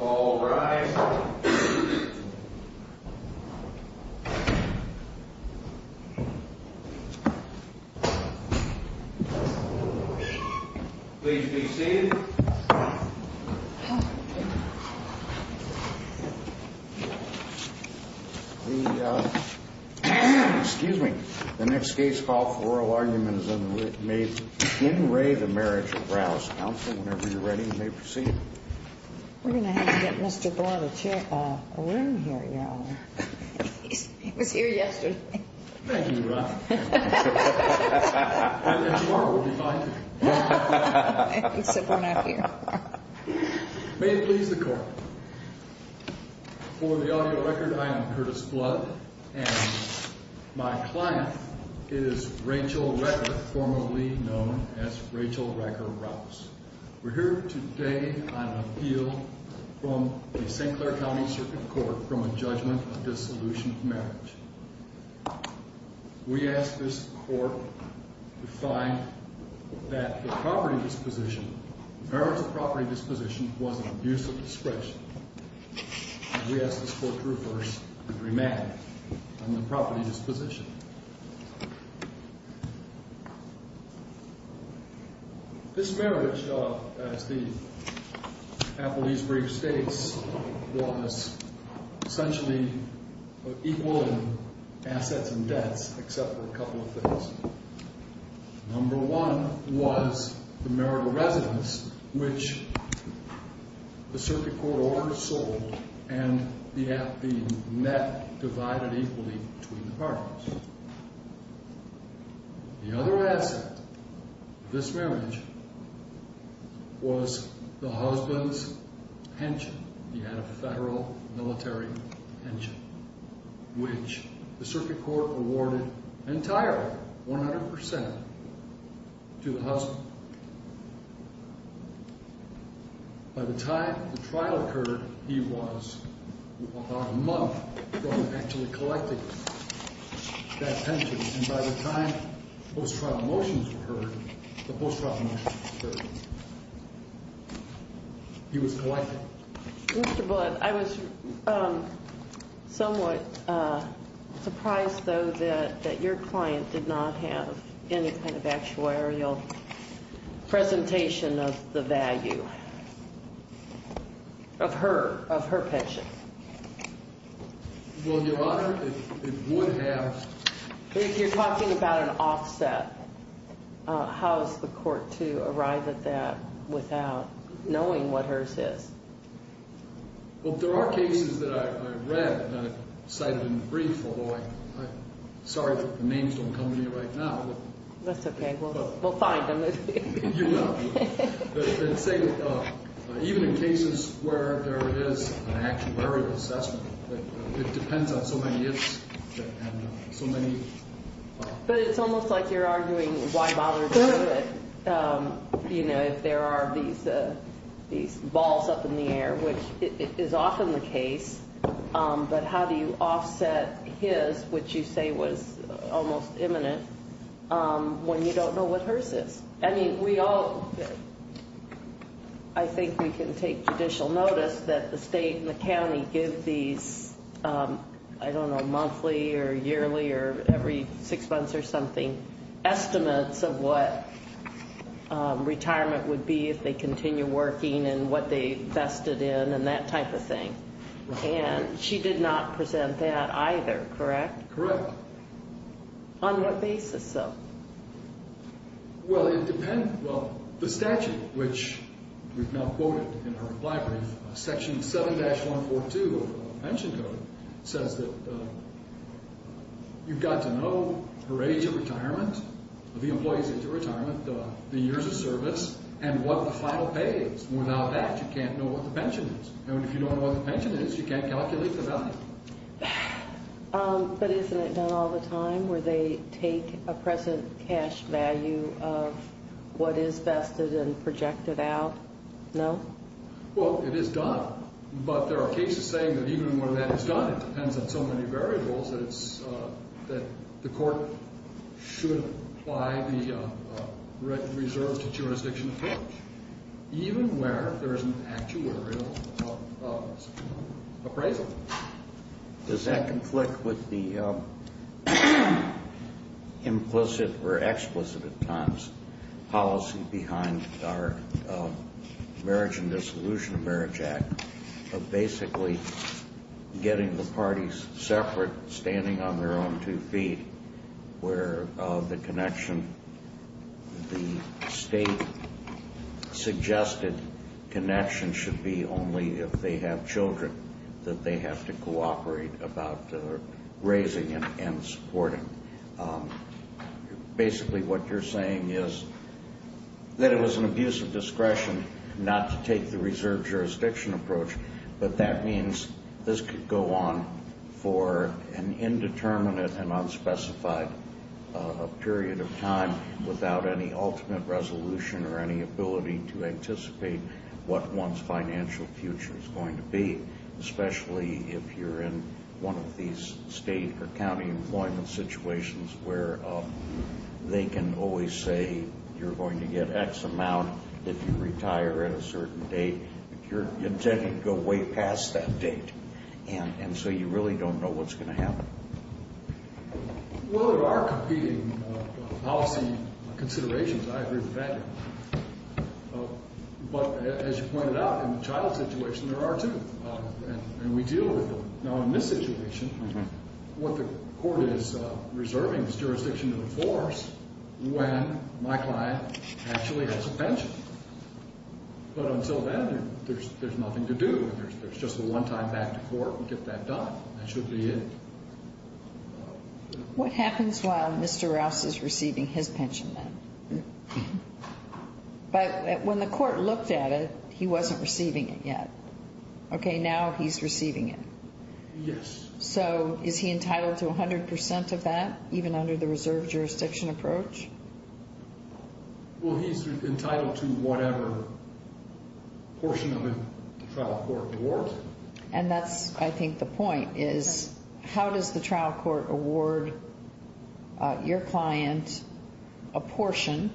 All rise. Please be seated. The, uh, excuse me. The next case file for oral argument is made in re the Marriage of Rouse. Counsel, whenever you're ready, may proceed. We're going to have to get Mr. Blood a chair, uh, a room here, Your Honor. He was here yesterday. Thank you, Your Honor. And tomorrow will be fine. May it please the Court. For the audio record, I am Curtis Blood, and my client is Rachel Recker, formerly known as Rachel Recker Rouse. We're here today on an appeal from the St. Clair County Circuit Court from a judgment of dissolution of marriage. We ask this Court to find that the property disposition, marriage of property disposition, was an abuse of discretion. We ask this Court to reverse and remand on the property disposition. This marriage, uh, as the appellee's brief states, was essentially equal in assets and debts, except for a couple of things. Number one was the marital residence, which the Circuit Court order sold, and the app, the net divided equally between the partners. The other asset of this marriage was the husband's pension. He had a federal military pension, which the Circuit Court awarded entirely, 100%, to the husband. By the time the trial occurred, he was about a month from actually collecting that pension. And by the time post-trial motions were heard, the post-trial motions were heard. He was collected. Mr. Bullett, I was somewhat surprised, though, that your client did not have any kind of actuarial presentation of the value of her, of her pension. Well, Your Honor, it would have. If you're talking about an offset, how is the Court to arrive at that without knowing what hers is? Well, there are cases that I've read and I've cited in brief, although I'm sorry that the names don't come to me right now. That's okay. We'll find them. Even in cases where there is an actuarial assessment, it depends on so many ifs and so many. But it's almost like you're arguing why bother doing it, you know, if there are these balls up in the air, which is often the case. But how do you offset his, which you say was almost imminent, when you don't know what hers is? I mean, we all, I think we can take judicial notice that the state and the county give these, I don't know, monthly or yearly or every six months or something, estimates of what retirement would be if they continue working and what they vested in and that type of thing. And she did not present that either, correct? Correct. On what basis, though? Well, it depends. Well, the statute, which we've now quoted in our reply brief, Section 7-142 of the pension code, says that you've got to know her age of retirement, the employees age of retirement, the years of service, and what the final pay is. Without that, you can't know what the pension is. And if you don't know what the pension is, you can't calculate the value. But isn't it done all the time, where they take a present cash value of what is vested and project it out? No? Well, it is done. But there are cases saying that even when that is done, it depends on so many variables that the court should apply the reserve to jurisdiction approach. Even where there is an actuarial appraisal. Does that conflict with the implicit or explicit at times policy behind our Marriage and Dissolution of Marriage Act of basically getting the parties separate, standing on their own two feet, where the connection, the state-suggested connection should be only if they have children that they have to cooperate about raising and supporting. Basically, what you're saying is that it was an abuse of discretion not to take the reserve jurisdiction approach. But that means this could go on for an indeterminate and unspecified period of time without any ultimate resolution or any ability to anticipate what one's financial future is going to be. Especially if you're in one of these state or county employment situations where they can always say you're going to get X amount if you retire at a certain date. But you're intending to go way past that date. And so you really don't know what's going to happen. Well, there are competing policy considerations. I agree with that. But as you pointed out, in the child situation, there are two. And we deal with them. Now, in this situation, what the court is reserving is jurisdiction to enforce when my client actually has a pension. But until then, there's nothing to do. There's just a one-time back to court to get that done. That should be it. What happens while Mr. Rouse is receiving his pension then? But when the court looked at it, he wasn't receiving it yet. Okay, now he's receiving it. Yes. So is he entitled to 100% of that, even under the reserve jurisdiction approach? Well, he's entitled to whatever portion of the trial court award. And that's, I think, the point is how does the trial court award your client a portion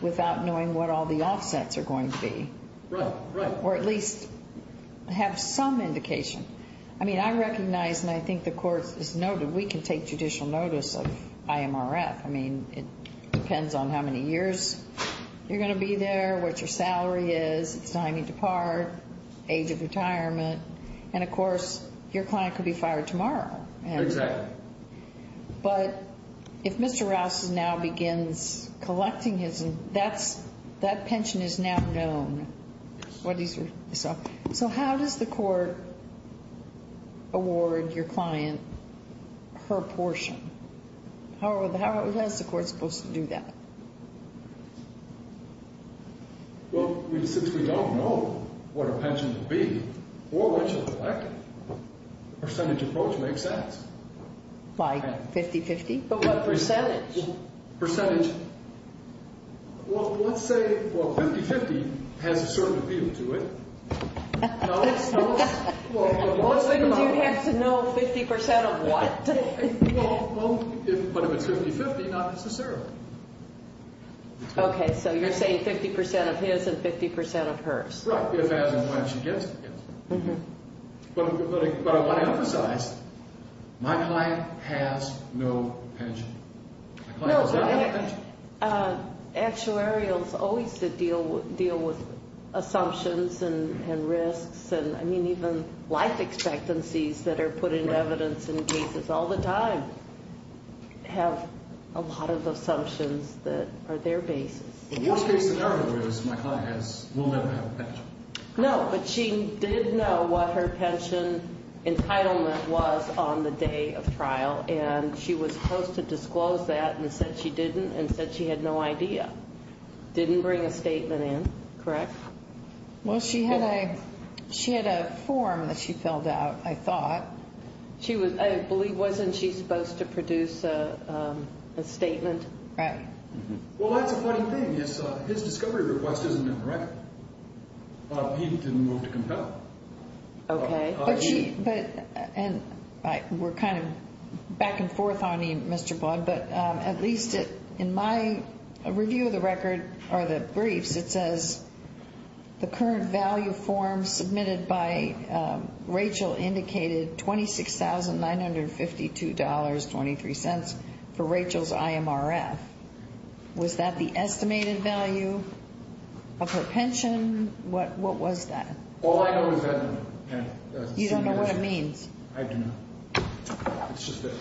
without knowing what all the offsets are going to be? Right, right. Or at least have some indication. I mean, I recognize and I think the court has noted we can take judicial notice of IMRF. I mean, it depends on how many years you're going to be there, what your salary is, time you depart, age of retirement. And, of course, your client could be fired tomorrow. Exactly. But if Mr. Rouse now begins collecting his, that pension is now known. Yes. So how does the court award your client her portion? How is the court supposed to do that? Well, since we don't know what her pension will be or when she'll collect it, the percentage approach makes sense. By 50-50? But what percentage? Percentage. Well, let's say, well, 50-50 has a certain appeal to it. Well, then you'd have to know 50% of what? Well, but if it's 50-50, not necessarily. Okay, so you're saying 50% of his and 50% of hers. Right, if and when she gets it. But I want to emphasize, my client has no pension. No, but actuarials always deal with assumptions and risks and, I mean, even life expectancies that are put into evidence in cases all the time have a lot of assumptions that are their basis. The worst case scenario is my client will never have a pension. No, but she did know what her pension entitlement was on the day of trial, and she was supposed to disclose that and said she didn't and said she had no idea. Didn't bring a statement in, correct? Well, she had a form that she filled out, I thought. I believe, wasn't she supposed to produce a statement? Right. Well, that's a funny thing. His discovery request isn't in the record. He didn't move to compel. Okay. We're kind of back and forth on you, Mr. Baud, but at least in my review of the record or the briefs, it says the current value form submitted by Rachel indicated $26,952.23 for Rachel's IMRF. Was that the estimated value of her pension? What was that? All I know is that. You don't know what it means? I do not. It's just that.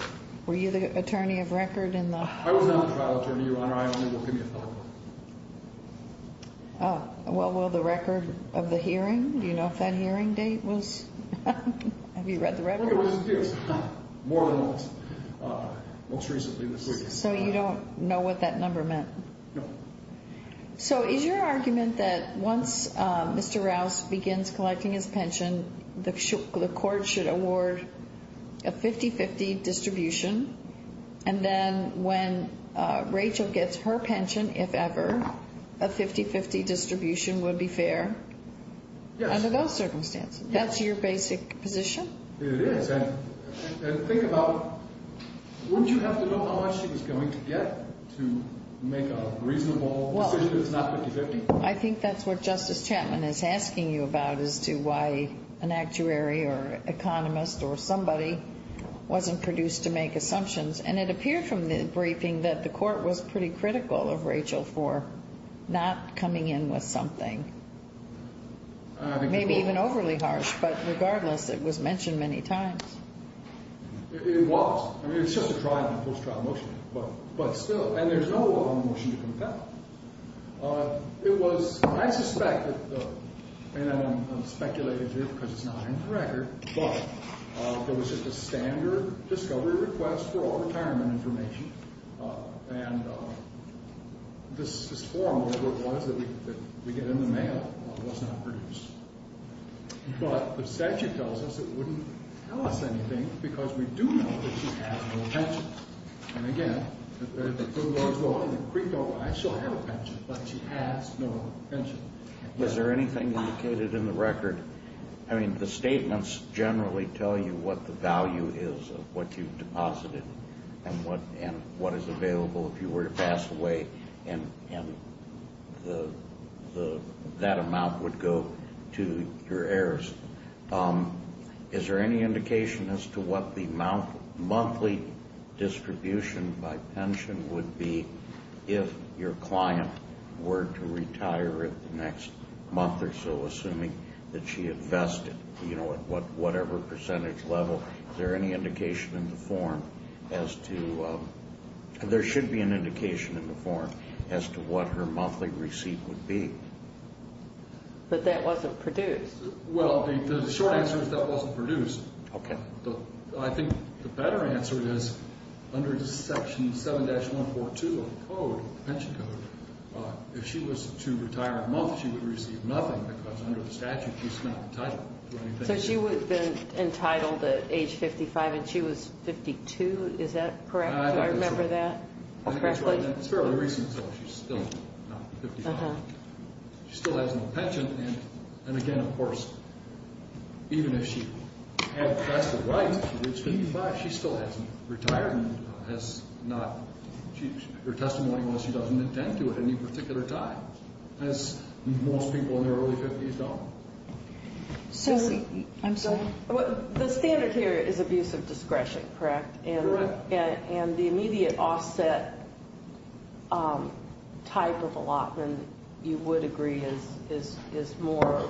Were you the attorney of record in the? I was not a trial attorney, Your Honor. I only worked in the appellate court. Well, will the record of the hearing, do you know if that hearing date was? Have you read the record? It was more than once, most recently this week. So you don't know what that number meant? No. So is your argument that once Mr. Rouse begins collecting his pension, the court should award a 50-50 distribution, and then when Rachel gets her pension, if ever, a 50-50 distribution would be fair? Yes. Under those circumstances? Yes. That's your basic position? It is. And think about, wouldn't you have to know how much she was going to get to make a reasonable decision that's not 50-50? I think that's what Justice Chapman is asking you about as to why an actuary or economist or somebody wasn't produced to make assumptions. And it appeared from the briefing that the court was pretty critical of Rachel for not coming in with something. Maybe even overly harsh, but regardless, it was mentioned many times. It was. I mean, it's just a trial and post-trial motion, but still. And there's no wrong motion to compel. It was, I suspect, and I'm speculating here because it's not in the record, but there was just a standard discovery request for all retirement information. And this form, whatever it was, that we get in the mail, was not produced. But the statute tells us it wouldn't tell us anything because we do know that she has no pension. And, again, the court was going to be critical. I still have a pension, but she has no pension. Is there anything indicated in the record? I mean, the statements generally tell you what the value is of what you've deposited and what is available if you were to pass away, and that amount would go to your heirs. Is there any indication as to what the monthly distribution by pension would be if your client were to retire in the next month or so, assuming that she invested, you know, at whatever percentage level? Is there any indication in the form as to – there should be an indication in the form as to what her monthly receipt would be. But that wasn't produced. Well, the short answer is that wasn't produced. Okay. I think the better answer is under Section 7-142 of the code, the pension code, if she was to retire a month, she would receive nothing because under the statute, she's not entitled to anything. So she would have been entitled at age 55, and she was 52. Is that correct? Do I remember that correctly? It's fairly recent, so she's still not 55. She still has no pension. And, again, of course, even if she had vested rights to reach 55, she still hasn't retired and has not – her testimony was she doesn't intend to at any particular time, as most people in their early 50s don't. So – I'm sorry? The standard here is abuse of discretion, correct? Correct. And the immediate offset type of allotment, you would agree, is more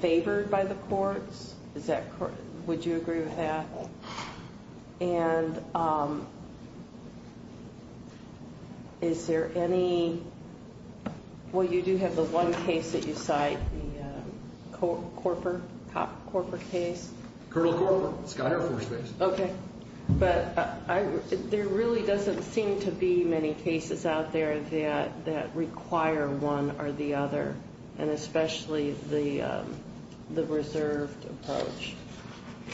favored by the courts? Is that correct? Would you agree with that? Yes. And is there any – well, you do have the one case that you cite, the Korpor case? Colonel Korpor, Sky Air Force base. Okay. But there really doesn't seem to be many cases out there that require one or the other, and especially the reserved approach.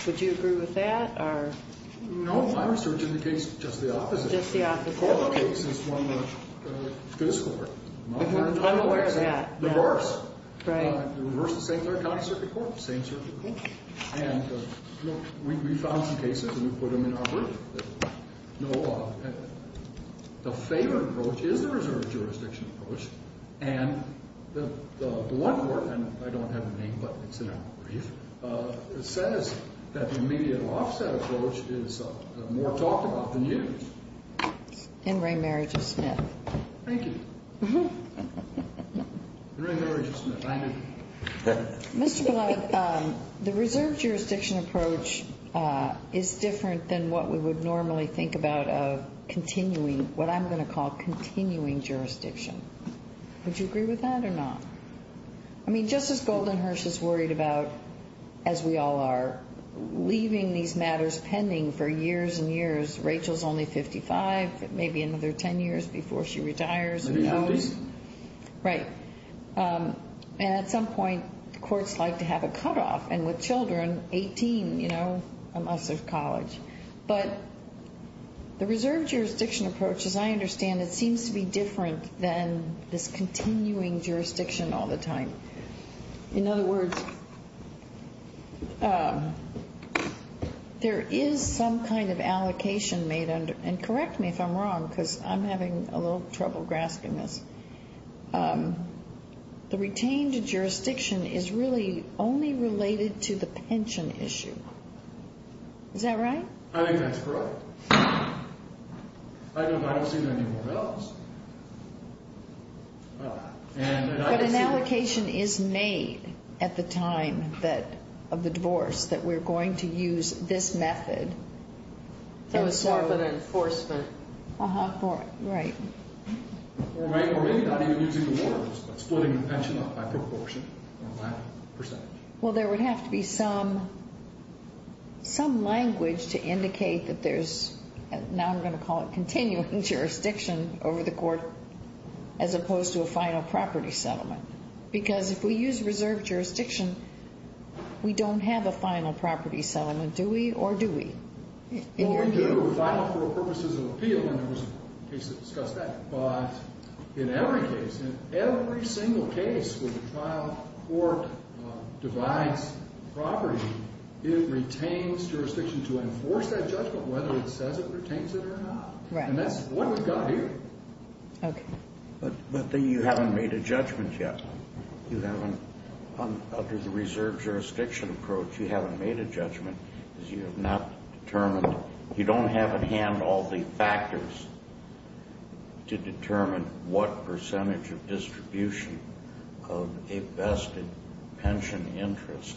Would you agree with that, or – No, my research indicates just the opposite. Just the opposite? The Korpor case is one that this court – I'm aware of that. Reversed. Right. Reversed the same third county circuit court, the same circuit court. Okay. And we found some cases, and we put them in our brief. No, the favored approach is the reserved jurisdiction approach, and the one court – and I don't have the name, but it's in our brief – says that the immediate offset approach is more talked about than used. In re marriage of Smith. Thank you. In re marriage of Smith. Mr. Blumenthal, the reserved jurisdiction approach is different than what we would normally think about of continuing – what I'm going to call continuing jurisdiction. Would you agree with that or not? I mean, Justice Goldenherz is worried about, as we all are, leaving these matters pending for years and years. Rachel is only 55, maybe another 10 years before she retires. Maybe 50. Right. And at some point, courts like to have a cutoff, and with children, 18, you know, unless there's college. But the reserved jurisdiction approach, as I understand it, seems to be different than this continuing jurisdiction all the time. In other words, there is some kind of allocation made under – and correct me if I'm wrong, because I'm having a little trouble grasping this. The retained jurisdiction is really only related to the pension issue. Is that right? I think that's correct. I don't see anything else. But an allocation is made at the time of the divorce that we're going to use this method. For enforcement. Right. Or maybe not even using the words, but splitting the pension up by proportion or by percentage. Well, there would have to be some language to indicate that there's – now I'm going to call it continuing jurisdiction over the court, as opposed to a final property settlement. Because if we use reserved jurisdiction, we don't have a final property settlement, do we, or do we? Well, we do final for purposes of appeal, and there was a case that discussed that. But in every case, in every single case where the trial court divides property, it retains jurisdiction to enforce that judgment, whether it says it retains it or not. Right. And that's what we've got here. Okay. But then you haven't made a judgment yet. You haven't. Under the reserved jurisdiction approach, you haven't made a judgment because you have not determined – you don't have at hand all the factors to determine what percentage of distribution of a vested pension interest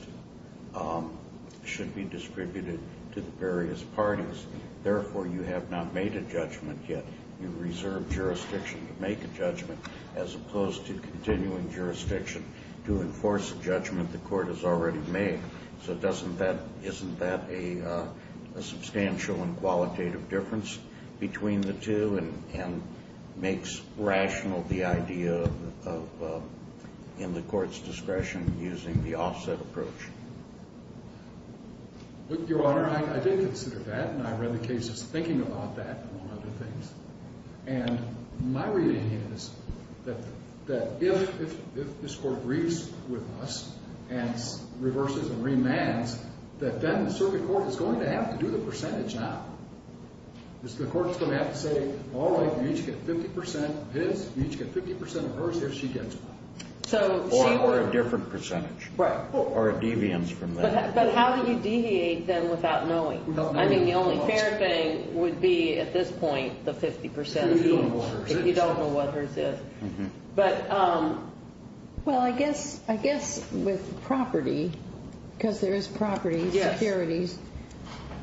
should be distributed to the various parties. Therefore, you have not made a judgment yet. You reserve jurisdiction to make a judgment, as opposed to continuing jurisdiction to enforce a judgment the court has already made. So doesn't that – isn't that a substantial and qualitative difference between the two and makes rational the idea of, in the court's discretion, using the offset approach? Your Honor, I did consider that, and I read the cases thinking about that, among other things. And my reading is that if this court agrees with us and reverses and remands, that then the circuit court is going to have to do the percentage now. The court is going to have to say, all right, you each get 50 percent of his, you each get 50 percent of hers, if she gets one. Or a different percentage. Right. Or a deviance from that. But how do you deviate, then, without knowing? I mean, the only fair thing would be, at this point, the 50 percent. If you don't know what hers is. If you don't know what hers is. But – Well, I guess with property, because there is property securities,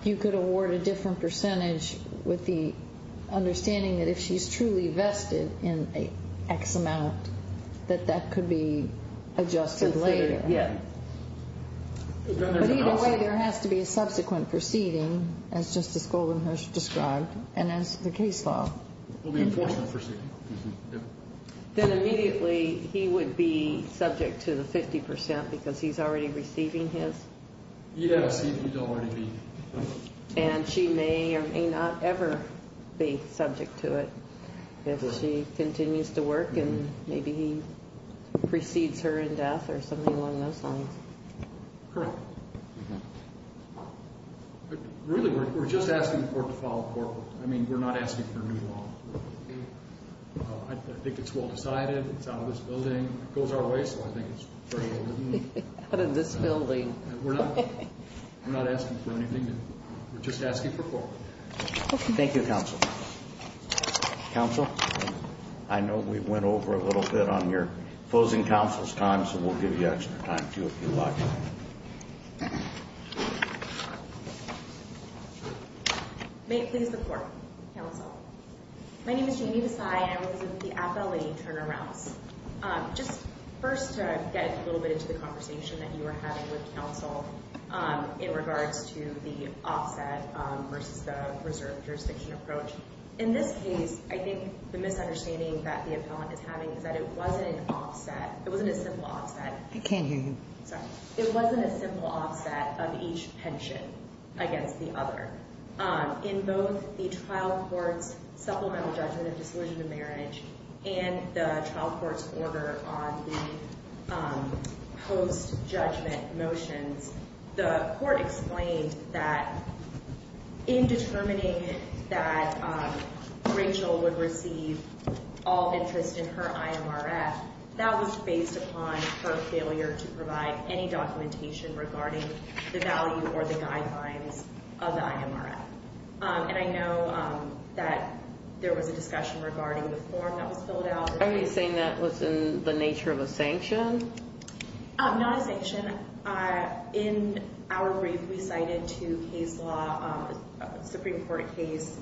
you could award a different percentage with the understanding that if she's truly vested in X amount, that that could be adjusted later. Yeah. But either way, there has to be a subsequent proceeding, as Justice Goldenhurst described, and as the case law. There will be a forceful proceeding. Then immediately, he would be subject to the 50 percent, because he's already receiving his? He'd have a seat, he'd already be. And she may or may not ever be subject to it. If she continues to work, and maybe he precedes her in death or something along those lines. Correct. Really, we're just asking for it to fall apart. I mean, we're not asking for a new law. I think it's well decided. It's out of this building. It goes our way, so I think it's fair to go with it. Out of this building. We're not asking for anything new. We're just asking for it to fall apart. Thank you, Counsel. Counsel, I know we went over a little bit on your opposing counsel's time, so we'll give you extra time, too, if you like. May it please the Court, Counsel. My name is Janie Visay, and I was with the appellate in Turner Rouse. Just first to get a little bit into the conversation that you were having with Counsel in regards to the offset versus the reserve jurisdiction approach. In this case, I think the misunderstanding that the appellant is having is that it wasn't an offset. It wasn't a simple offset. I can't hear you. Sorry. It wasn't a simple offset of each pension against the other. In both the trial court's supplemental judgment of disillusionment of marriage and the trial court's order on the post-judgment motions, the court explained that in determining that Rachel would receive all interest in her IMRF, that was based upon her failure to provide any documentation regarding the value or the guidelines of the IMRF. And I know that there was a discussion regarding the form that was filled out. Are you saying that was in the nature of a sanction? Not a sanction. In our brief, we cited two case law Supreme Court case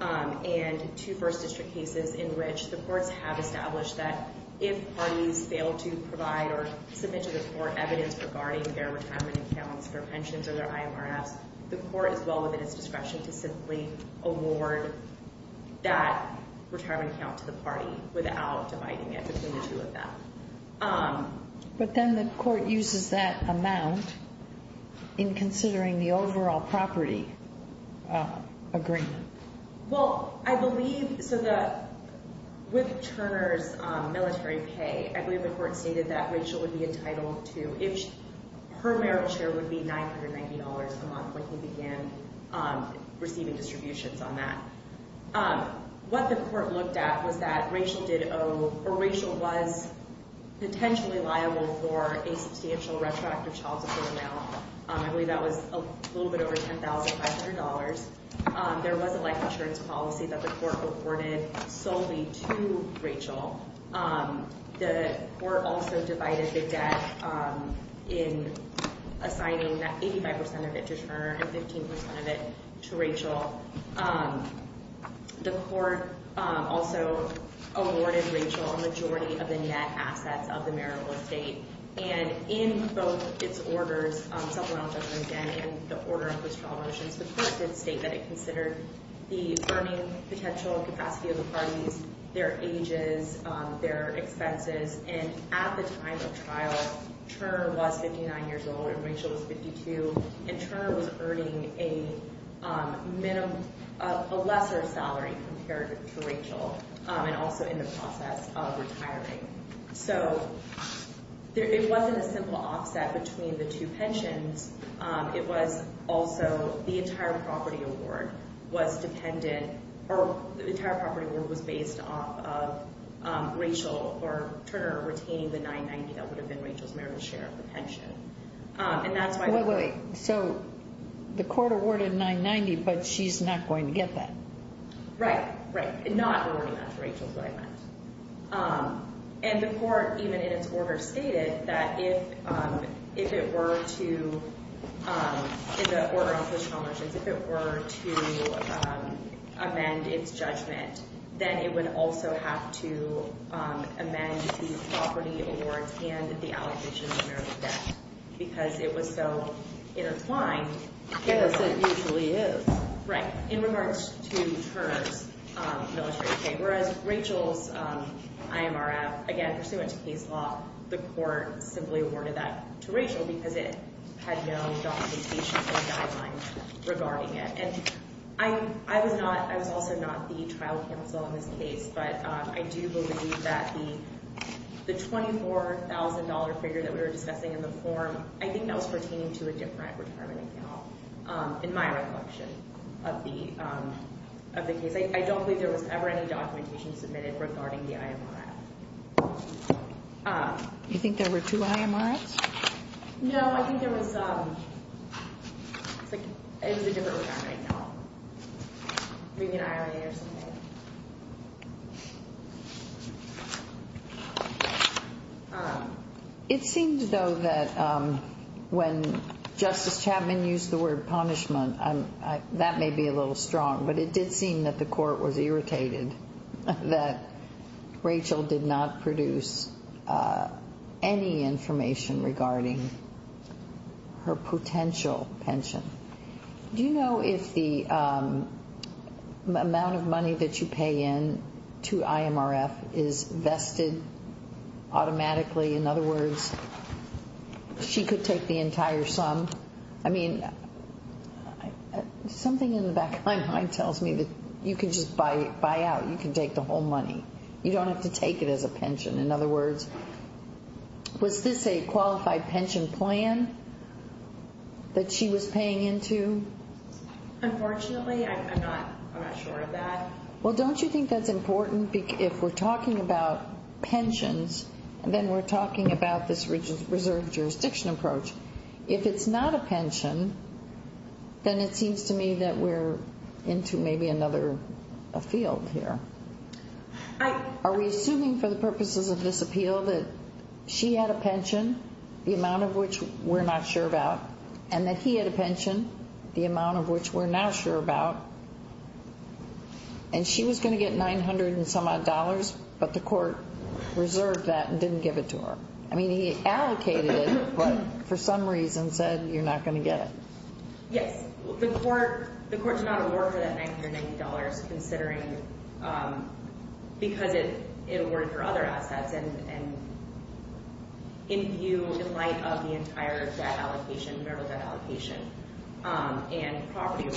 and two first district cases in which the courts have established that if parties fail to provide or submit to the court evidence regarding their retirement accounts, their pensions, or their IMRFs, the court is well within its discretion to simply award that retirement account to the party without dividing it between the two of them. But then the court uses that amount in considering the overall property agreement. Well, I believe, so the, with Turner's military pay, I believe the court stated that Rachel would be entitled to, her merit share would be $990 a month when he began receiving distributions on that. What the court looked at was that Rachel did owe, or Rachel was potentially liable for a substantial retroactive child support amount. I believe that was a little bit over $10,500. There was a life insurance policy that the court awarded solely to Rachel. The court also divided the debt in assigning that 85% of it to Turner and 15% of it to Rachel. The court also awarded Rachel a majority of the net assets of the marital estate. And in both its orders, supplemental judgment again in the order of those trial motions, the court did state that it considered the earning potential and capacity of the parties, their ages, their expenses. And at the time of trial, Turner was 59 years old and Rachel was 52. And Turner was earning a lesser salary compared to Rachel, and also in the process of retiring. So it wasn't a simple offset between the two pensions. It was also the entire property award was dependent, or the entire property award was based off of Rachel or Turner retaining the $990. That would have been Rachel's merit share of the pension. And that's why- Wait, wait, wait. So the court awarded $990, but she's not going to get that. Right, right. Not awarding that to Rachel, but I meant. And the court, even in its order, stated that if it were to, in the order of those trial motions, if it were to amend its judgment, then it would also have to amend the property awards and the allegations of marital debt. Because it was so intertwined. Yes, it usually is. Right. In regards to Turner's military pay, whereas Rachel's IMRF, again, pursuant to case law, the court simply awarded that to Rachel because it had no documentation or guidelines regarding it. And I was also not the trial counsel in this case, but I do believe that the $24,000 figure that we were discussing in the form, I think that was pertaining to a different retirement account, in my recollection of the case. I don't believe there was ever any documentation submitted regarding the IMRF. You think there were two IMRFs? No, I think there was a different retirement account, maybe an IRA or something. All right. It seems, though, that when Justice Chapman used the word punishment, that may be a little strong, but it did seem that the court was irritated that Rachel did not produce any information regarding her potential pension. Do you know if the amount of money that you pay in to IMRF is vested automatically? In other words, she could take the entire sum? I mean, something in the back of my mind tells me that you can just buy out. You can take the whole money. You don't have to take it as a pension. In other words, was this a qualified pension plan that she was paying into? Unfortunately, I'm not sure of that. Well, don't you think that's important? If we're talking about pensions, then we're talking about this reserve jurisdiction approach. If it's not a pension, then it seems to me that we're into maybe another field here. Are we assuming for the purposes of this appeal that she had a pension, the amount of which we're not sure about, and that he had a pension, the amount of which we're now sure about, and she was going to get $900 and some odd dollars, but the court reserved that and didn't give it to her? I mean, he allocated it, but for some reason said you're not going to get it. Yes. The court did not award her that $990 because it awarded her other assets in view, in light of the entire debt allocation, marital debt allocation and property.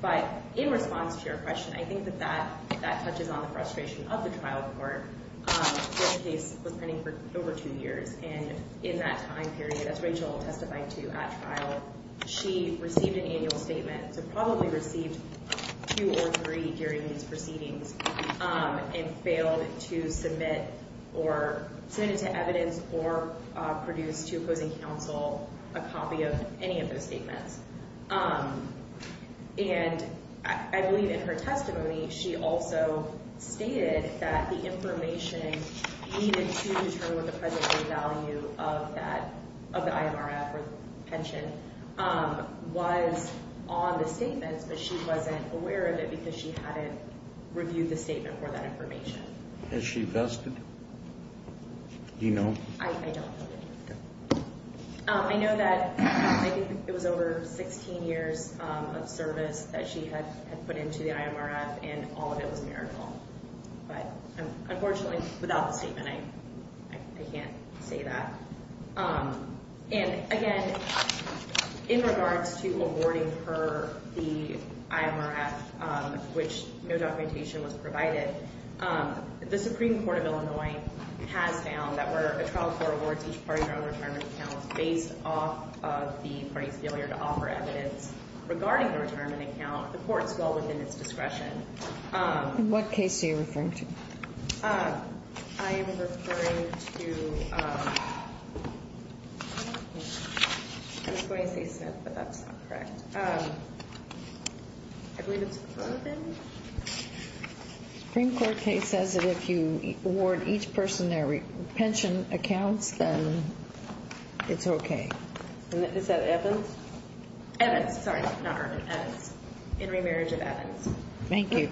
But in response to your question, I think that that touches on the frustration of the trial court. This case was pending for over two years, and in that time period, as Rachel testified to at trial, she received an annual statement, so probably received two or three during these proceedings, and failed to submit or send it to evidence or produce to opposing counsel a copy of any of those statements. And I believe in her testimony, she also stated that the information needed to determine the present-day value of the IMRF or pension was on the statements, but she wasn't aware of it because she hadn't reviewed the statement for that information. Has she vested? Do you know? I don't know. I know that I think it was over 16 years of service that she had put into the IMRF, and all of it was marital. But unfortunately, without the statement, I can't say that. And again, in regards to awarding her the IMRF, which no documentation was provided, the Supreme Court of Illinois has found that where a trial court awards each party their own retirement account based off of the party's failure to offer evidence regarding the retirement account, the court's will within its discretion. In what case are you referring to? I am referring to – I was going to say Smith, but that's not correct. I believe it's Ervin. The Supreme Court case says that if you award each person their pension accounts, then it's okay. Is that Evans? Evans. Sorry, not Ervin. Evans. In remarriage of Evans. Thank you.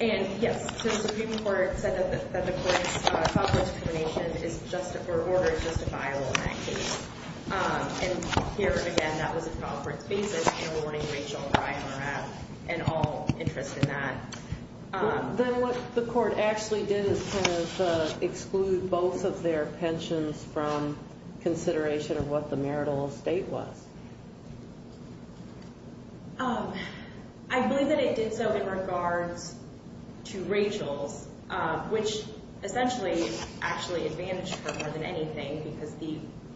And yes, the Supreme Court said that the court's trial court's determination is justifiable in that case. And here again, that was a trial court's basis in awarding Rachel the IMRF and all interest in that. Then what the court actually did is kind of exclude both of their pensions from consideration of what the marital estate was. I believe that it did so in regards to Rachel's, which essentially actually advantaged her more than anything because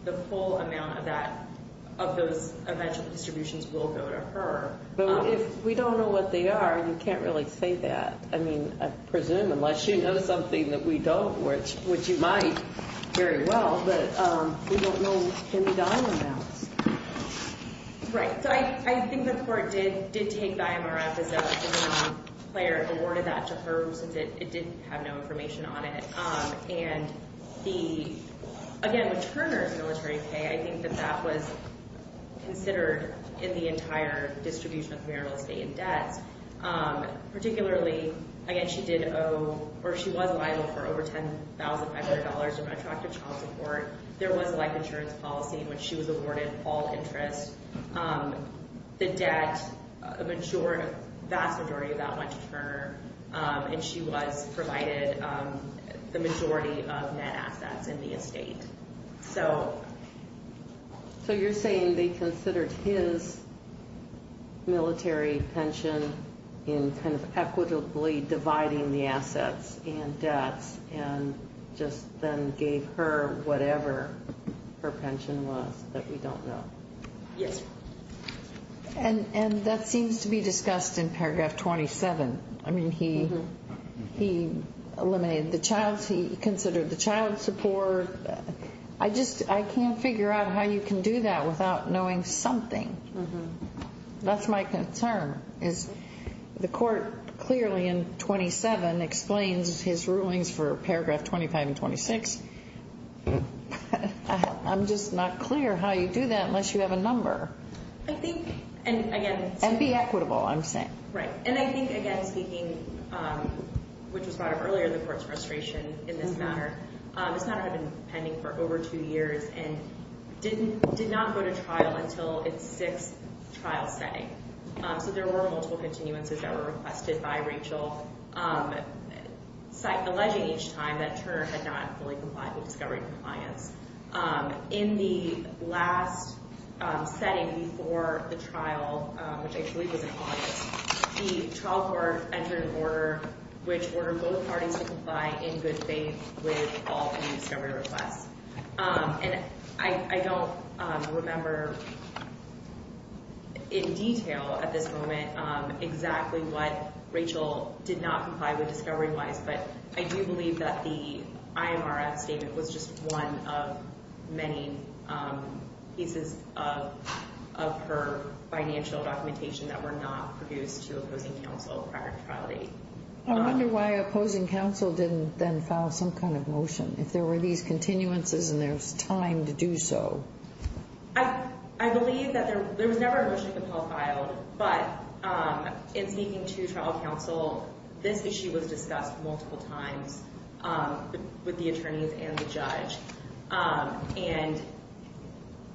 the full amount of that – of those eventual distributions will go to her. But if we don't know what they are, you can't really say that. I mean, I presume, unless you know something that we don't, which you might very well, but we don't know any dime amounts. Right. So I think the court did take the IMRF as a player and awarded that to her since it did have no information on it. And the – again, with Turner's military pay, I think that that was considered in the entire distribution of marital estate and debts. Particularly, again, she did owe – or she was liable for over $10,500 in retroactive child support. There was a life insurance policy in which she was awarded all interest. The debt, a vast majority of that went to Turner, and she was provided the majority of net assets in the estate. So you're saying they considered his military pension in kind of equitably dividing the assets and debts and just then gave her whatever her pension was that we don't know? Yes. And that seems to be discussed in paragraph 27. I mean, he eliminated the child. He considered the child support. I just – I can't figure out how you can do that without knowing something. That's my concern, is the court clearly in 27 explains his rulings for paragraph 25 and 26. I'm just not clear how you do that unless you have a number. I think – and again – And be equitable, I'm saying. Right. And I think, again, speaking – which was brought up earlier, the court's frustration in this matter. This matter had been pending for over two years and did not go to trial until its sixth trial setting. So there were multiple continuances that were requested by Rachel, alleging each time that Turner had not fully complied with discovery compliance. In the last setting before the trial, which I believe was in August, the trial court entered an order which ordered both parties to comply in good faith with all the discovery requests. And I don't remember in detail at this moment exactly what Rachel did not comply with discovery-wise, but I do believe that the IMRF statement was just one of many pieces of her financial documentation that were not produced to opposing counsel prior to trial date. I wonder why opposing counsel didn't then file some kind of motion. If there were these continuances and there was time to do so. I believe that there was never a motion to file, but in speaking to trial counsel, this issue was discussed multiple times with the attorneys and the judge. And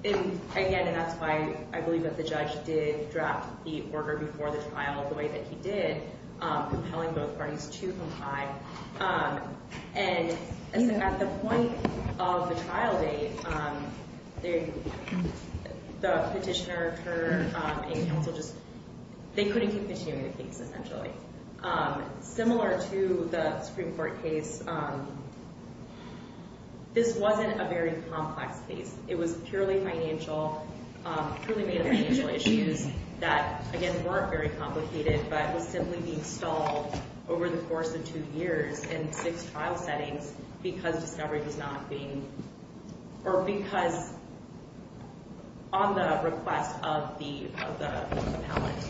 again, that's why I believe that the judge did draft the order before the trial the way that he did, compelling both parties to comply. And at the point of the trial date, the petitioner, Turner, and counsel just couldn't keep continuing the case, essentially. Similar to the Supreme Court case, this wasn't a very complex case. It was purely financial, purely made of financial issues that, again, weren't very complicated, but was simply being stalled over the course of two years in six trial settings because discovery was not being, or because on the request of the appellant.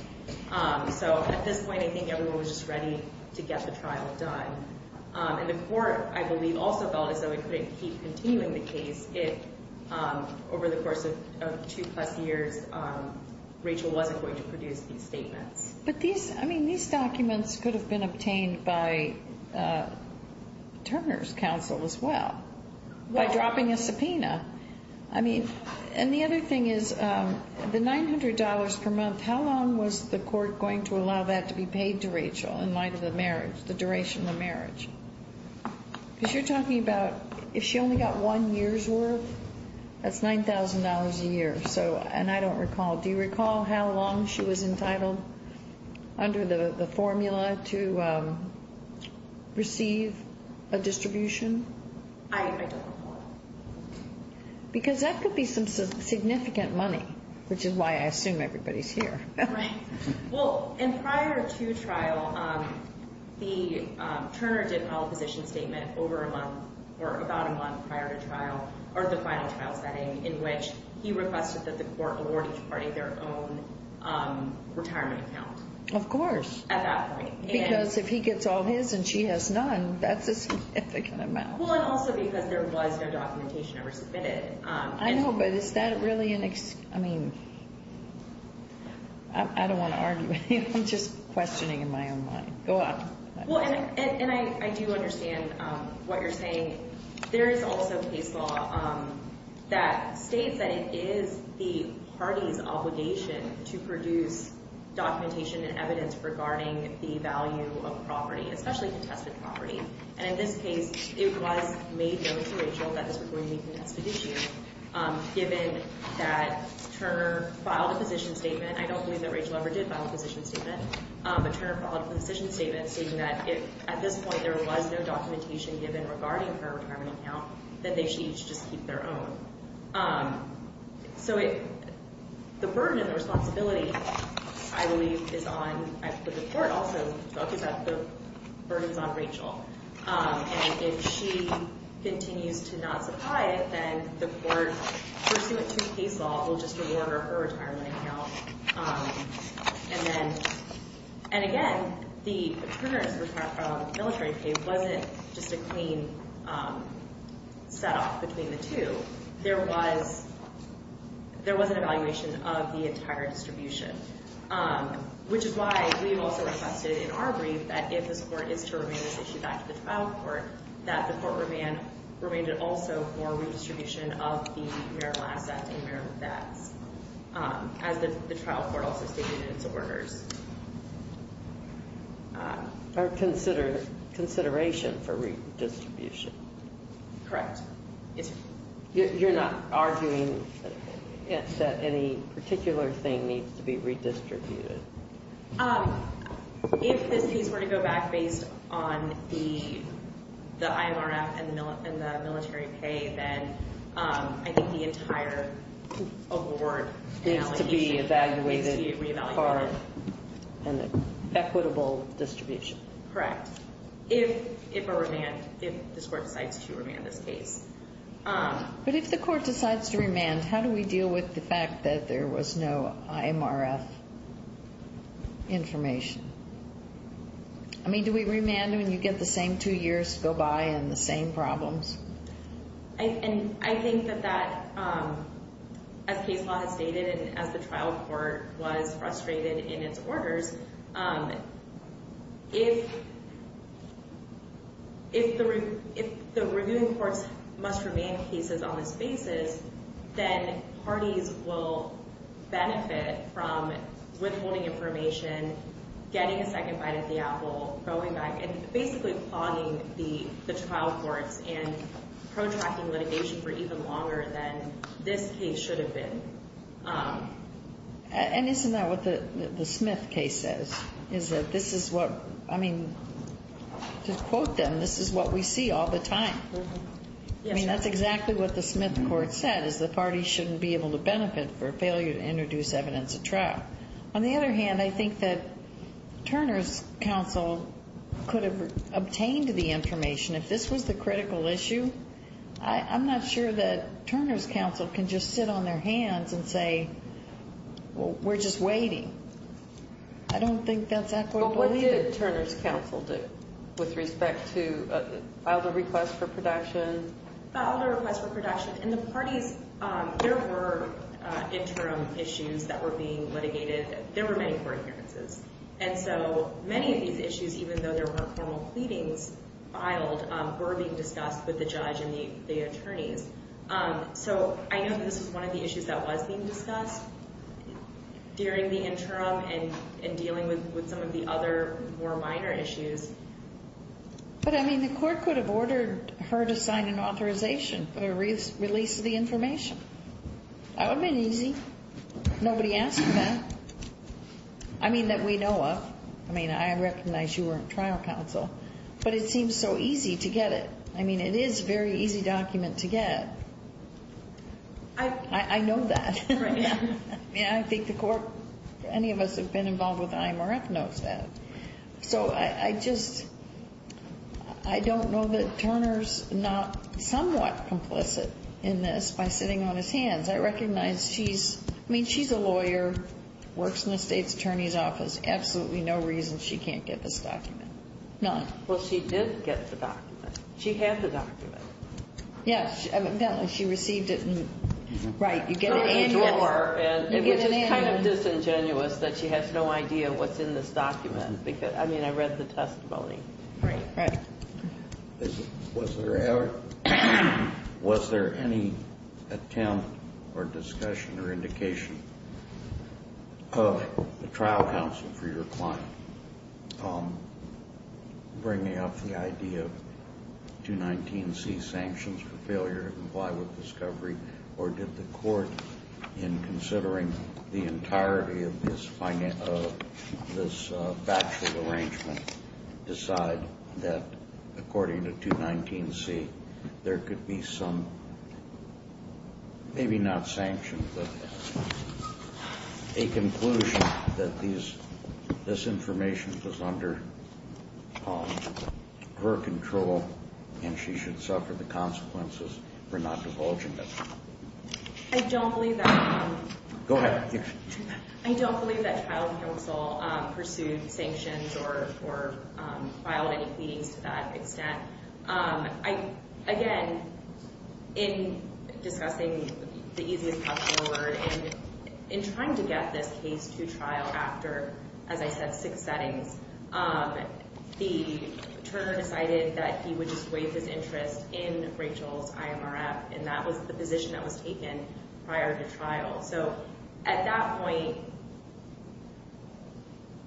So at this point, I think everyone was just ready to get the trial done. And the court, I believe, also felt as though it couldn't keep continuing the case if, over the course of two-plus years, Rachel wasn't going to produce these statements. But these, I mean, these documents could have been obtained by Turner's counsel as well, by dropping a subpoena. I mean, and the other thing is, the $900 per month, how long was the court going to allow that to be paid to Rachel in light of the marriage, the duration of the marriage? Because you're talking about if she only got one year's worth, that's $9,000 a year. And I don't recall. Do you recall how long she was entitled under the formula to receive a distribution? I don't recall. Because that could be some significant money, which is why I assume everybody's here. Right. Well, and prior to trial, Turner did file a position statement over a month, or about a month prior to trial, or the final trial setting, in which he requested that the court award each party their own retirement account. Of course. At that point. Because if he gets all his and she has none, that's a significant amount. Well, and also because there was no documentation ever submitted. I know, but is that really an – I mean, I don't want to argue with you. I'm just questioning in my own mind. Go on. Well, and I do understand what you're saying. There is also case law that states that it is the party's obligation to produce documentation and evidence regarding the value of property, especially contested property. And in this case, it was made known to Rachel that this was going to be a contested issue, given that Turner filed a position statement. I don't believe that Rachel ever did file a position statement. But Turner filed a position statement stating that if, at this point, there was no documentation given regarding her retirement account, that they should each just keep their own. So the burden and the responsibility, I believe, is on – the court also talks about the burden is on Rachel. And if she continues to not supply it, then the court, pursuant to case law, will just award her her retirement account. And then – and again, the Turner's military pay wasn't just a clean set-off between the two. There was – there was an evaluation of the entire distribution, which is why we've also requested in our brief that if this court is to remain this issue back to the trial court, that the court remain – remain to also for redistribution of the marital assets and marital debts. As the trial court also stated in its orders. Or consider – consideration for redistribution. Correct. Yes, sir. You're not arguing that any particular thing needs to be redistributed? If this case were to go back based on the IMRF and the military pay, then I think the entire award and allocation needs to be re-evaluated. Needs to be evaluated for an equitable distribution. Correct. If a remand – if this court decides to remand this case. But if the court decides to remand, how do we deal with the fact that there was no IMRF information? I mean, do we remand when you get the same two years go by and the same problems? I – and I think that that, as case law has stated and as the trial court was frustrated in its orders, if – if the – if the reviewing courts must remand cases on this basis, then parties will benefit from withholding information, getting a second bite at the apple, going back and basically clogging the trial courts and protracting litigation for even longer than this case should have been. And isn't that what the Smith case says? Is that this is what – I mean, to quote them, this is what we see all the time. Yes, ma'am. I mean, that's exactly what the Smith court said, is the parties shouldn't be able to benefit for failure to introduce evidence at trial. On the other hand, I think that Turner's counsel could have obtained the information. If this was the critical issue, I'm not sure that Turner's counsel can just sit on their hands and say, well, we're just waiting. I don't think that's equitable. But what did Turner's counsel do with respect to filed a request for production? Filed a request for production. And the parties – there were interim issues that were being litigated. There were many court appearances. And so many of these issues, even though there were formal pleadings filed, were being discussed with the judge and the attorneys. So I know that this was one of the issues that was being discussed during the interim and dealing with some of the other more minor issues. But, I mean, the court could have ordered her to sign an authorization for the release of the information. That would have been easy. Nobody asked for that. I mean, that we know of. I mean, I recognize you were on trial counsel. But it seems so easy to get it. I mean, it is a very easy document to get. I know that. I mean, I think the court – any of us who have been involved with the IMRF knows that. So I just – I don't know that Turner's not somewhat complicit in this by sitting on his hands. I recognize she's – I mean, she's a lawyer, works in the state's attorney's office. Absolutely no reason she can't get this document. None. Well, she did get the document. She had the document. Yes. She received it. Right. You get an annual – It was just kind of disingenuous that she has no idea what's in this document. Because, I mean, I read the testimony. Right. Right. Was there ever – was there any attempt or discussion or indication of the trial counsel for your client bringing up the idea of 219C, sanctions for failure to comply with discovery? Or did the court, in considering the entirety of this factual arrangement, decide that, according to 219C, there could be some – maybe not sanctions, but a conclusion that this information was under her control and she should suffer the consequences for not divulging it? I don't believe that – Go ahead. I don't believe that trial counsel pursued sanctions or filed any pleadings to that extent. Again, in discussing the easiest possible word, in trying to get this case to trial after, as I said, six settings, the attorney decided that he would just waive his interest in Rachel's IMRF, and that was the position that was taken prior to trial. So at that point,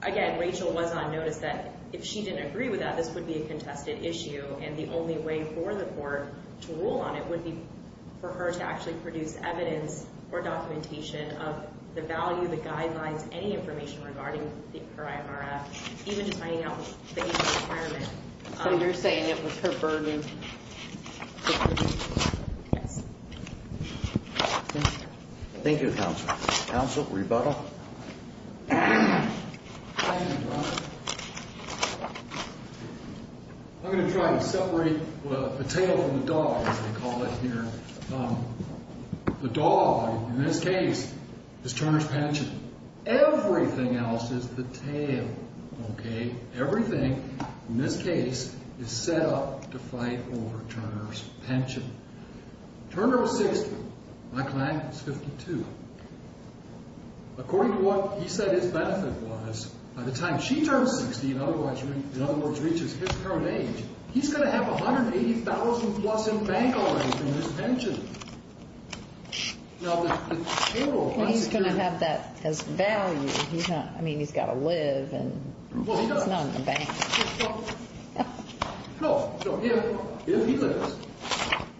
again, Rachel was on notice that if she didn't agree with that, this would be a contested issue, and the only way for the court to rule on it would be for her to actually produce evidence or documentation of the value, the guidelines, any information regarding her IMRF, even just finding out the legal requirement. So you're saying it was her burden. Yes. Thank you, counsel. Counsel, rebuttal. Thank you, Your Honor. I'm going to try to separate the tail from the dog, as they call it here. The dog, in this case, is Turner's pension. Everything else is the tail, okay? Turner was 60. My client was 52. According to what he said his benefit was, by the time she turns 60, in other words, reaches his current age, he's going to have $180,000-plus in bank already from his pension. He's going to have that as value. I mean, he's got to live, and it's not in the bank. No. So if he lives,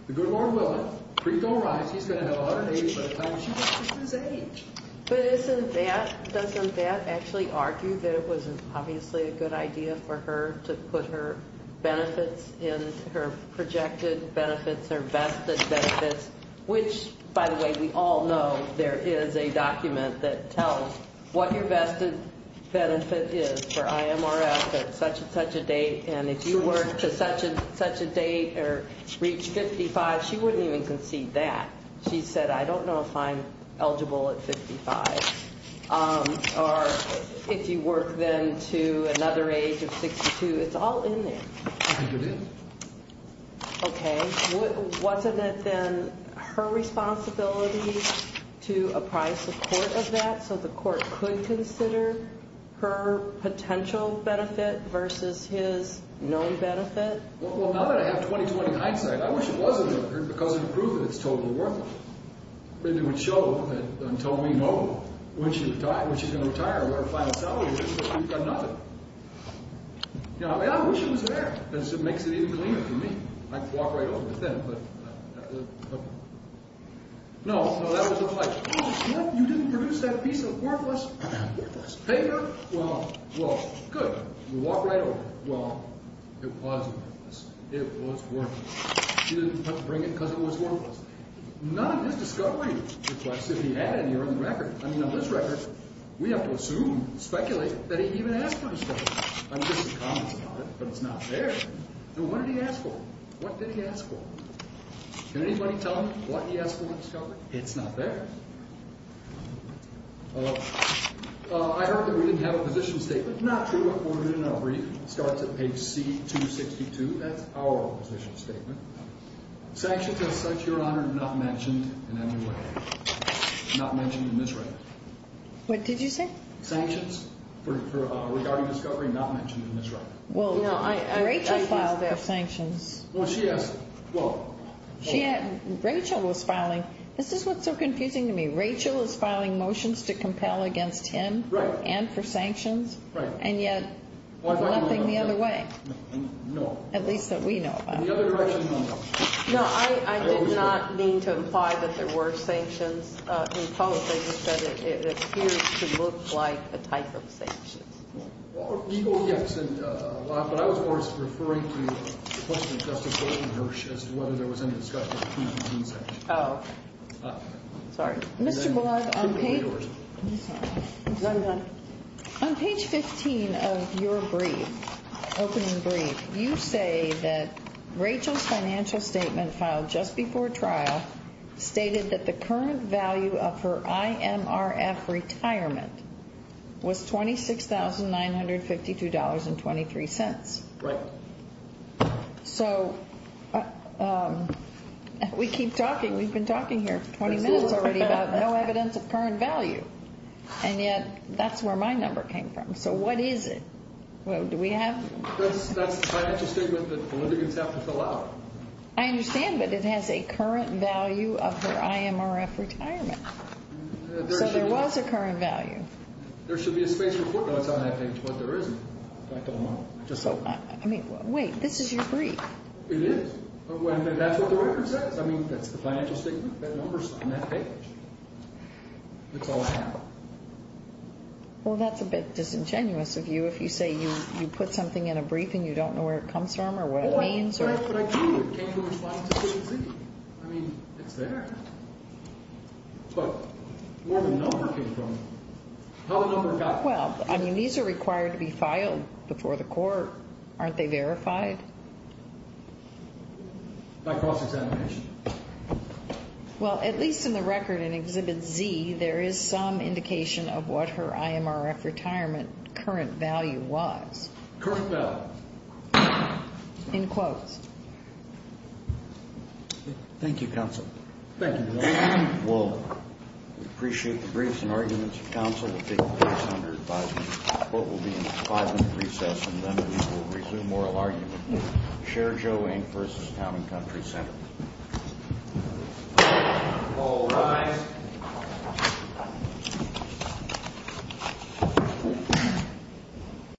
the good Lord will it. Preco writes he's going to have $180,000 by the time she reaches his age. But isn't that, doesn't that actually argue that it was obviously a good idea for her to put her benefits in, her projected benefits or vested benefits, which, by the way, we all know there is a document that tells what your vested benefit is for IMRF at such and such a date, and if you work to such and such a date or reach 55, she wouldn't even concede that. She said, I don't know if I'm eligible at 55, or if you work then to another age of 62. It's all in there. I think it is. Okay. Wasn't it then her responsibility to apprise the court of that, so the court could consider her potential benefit versus his known benefit? Well, now that I have 20-20 hindsight, I wish it wasn't, because it would prove that it's totally worth it. It would show that until we know when she's going to retire, what her final salary is, we've got nothing. I wish it was there. It makes it even cleaner for me. I could walk right over it then, but no, that was a flight. You didn't produce that piece of worthless paper? Well, good. You walk right over it. Well, it was worthless. It was worthless. She didn't bring it because it was worthless. None of his discovery requests if he had any are on the record. I mean, on this record, we have to assume, speculate, that he even asked for discovery. I mean, there's some comments about it, but it's not there. What did he ask for? What did he ask for? Can anybody tell me what he asked for in discovery? It's not there. I heard that we didn't have a position statement. Not true. I forwarded it in a brief. It starts at page C262. That's our position statement. Sanctions as such, Your Honor, not mentioned in any way. Not mentioned in this record. What did you say? Sanctions regarding discovery not mentioned in this record. Well, Rachel filed their sanctions. Well, she asked. Well. Rachel was filing. This is what's so confusing to me. Rachel was filing motions to compel against him and for sanctions. Right. And yet, nothing the other way. No. At least that we know about. The other direction, no. No, I did not mean to imply that there were sanctions imposed. I just said it appears to look like a type of sanctions. Well, legal, yes, and a lot. But I was more referring to the question of Justice Gordon Hirsch as to whether there was any discussion between the two sections. Oh. Sorry. Mr. Blogg, on page 15 of your brief, opening brief, you say that Rachel's financial statement filed just before trial stated that the current value of her IMRF retirement was $26,952.23. Right. So we keep talking. We've been talking here for 20 minutes already about no evidence of current value. And yet, that's where my number came from. So what is it? Well, do we have? That's the financial statement that the litigants have to fill out. I understand, but it has a current value of her IMRF retirement. So there was a current value. There should be a space report notes on that page, but there isn't. I don't know. I mean, wait, this is your brief. It is. That's what the record says. I mean, that's the financial statement. That number's on that page. It's all I have. Well, that's a bit disingenuous of you if you say you put something in a brief and you don't know where it comes from or what it means. Well, that's what I do. I came to respond to Exhibit Z. I mean, it's there. But where did the number come from? How did the number come from? Well, I mean, these are required to be filed before the court. Aren't they verified? By cross-examination. Well, at least in the record in Exhibit Z, there is some indication of what her IMRF retirement current value was. Current value. In quotes. Thank you, counsel. Thank you. Well, we appreciate the briefs and arguments of counsel. We'll take the case under advisement. The court will be in a five-minute recess, and then we will resume oral argument. Chair Joe Eng versus Town and Country Center. All rise.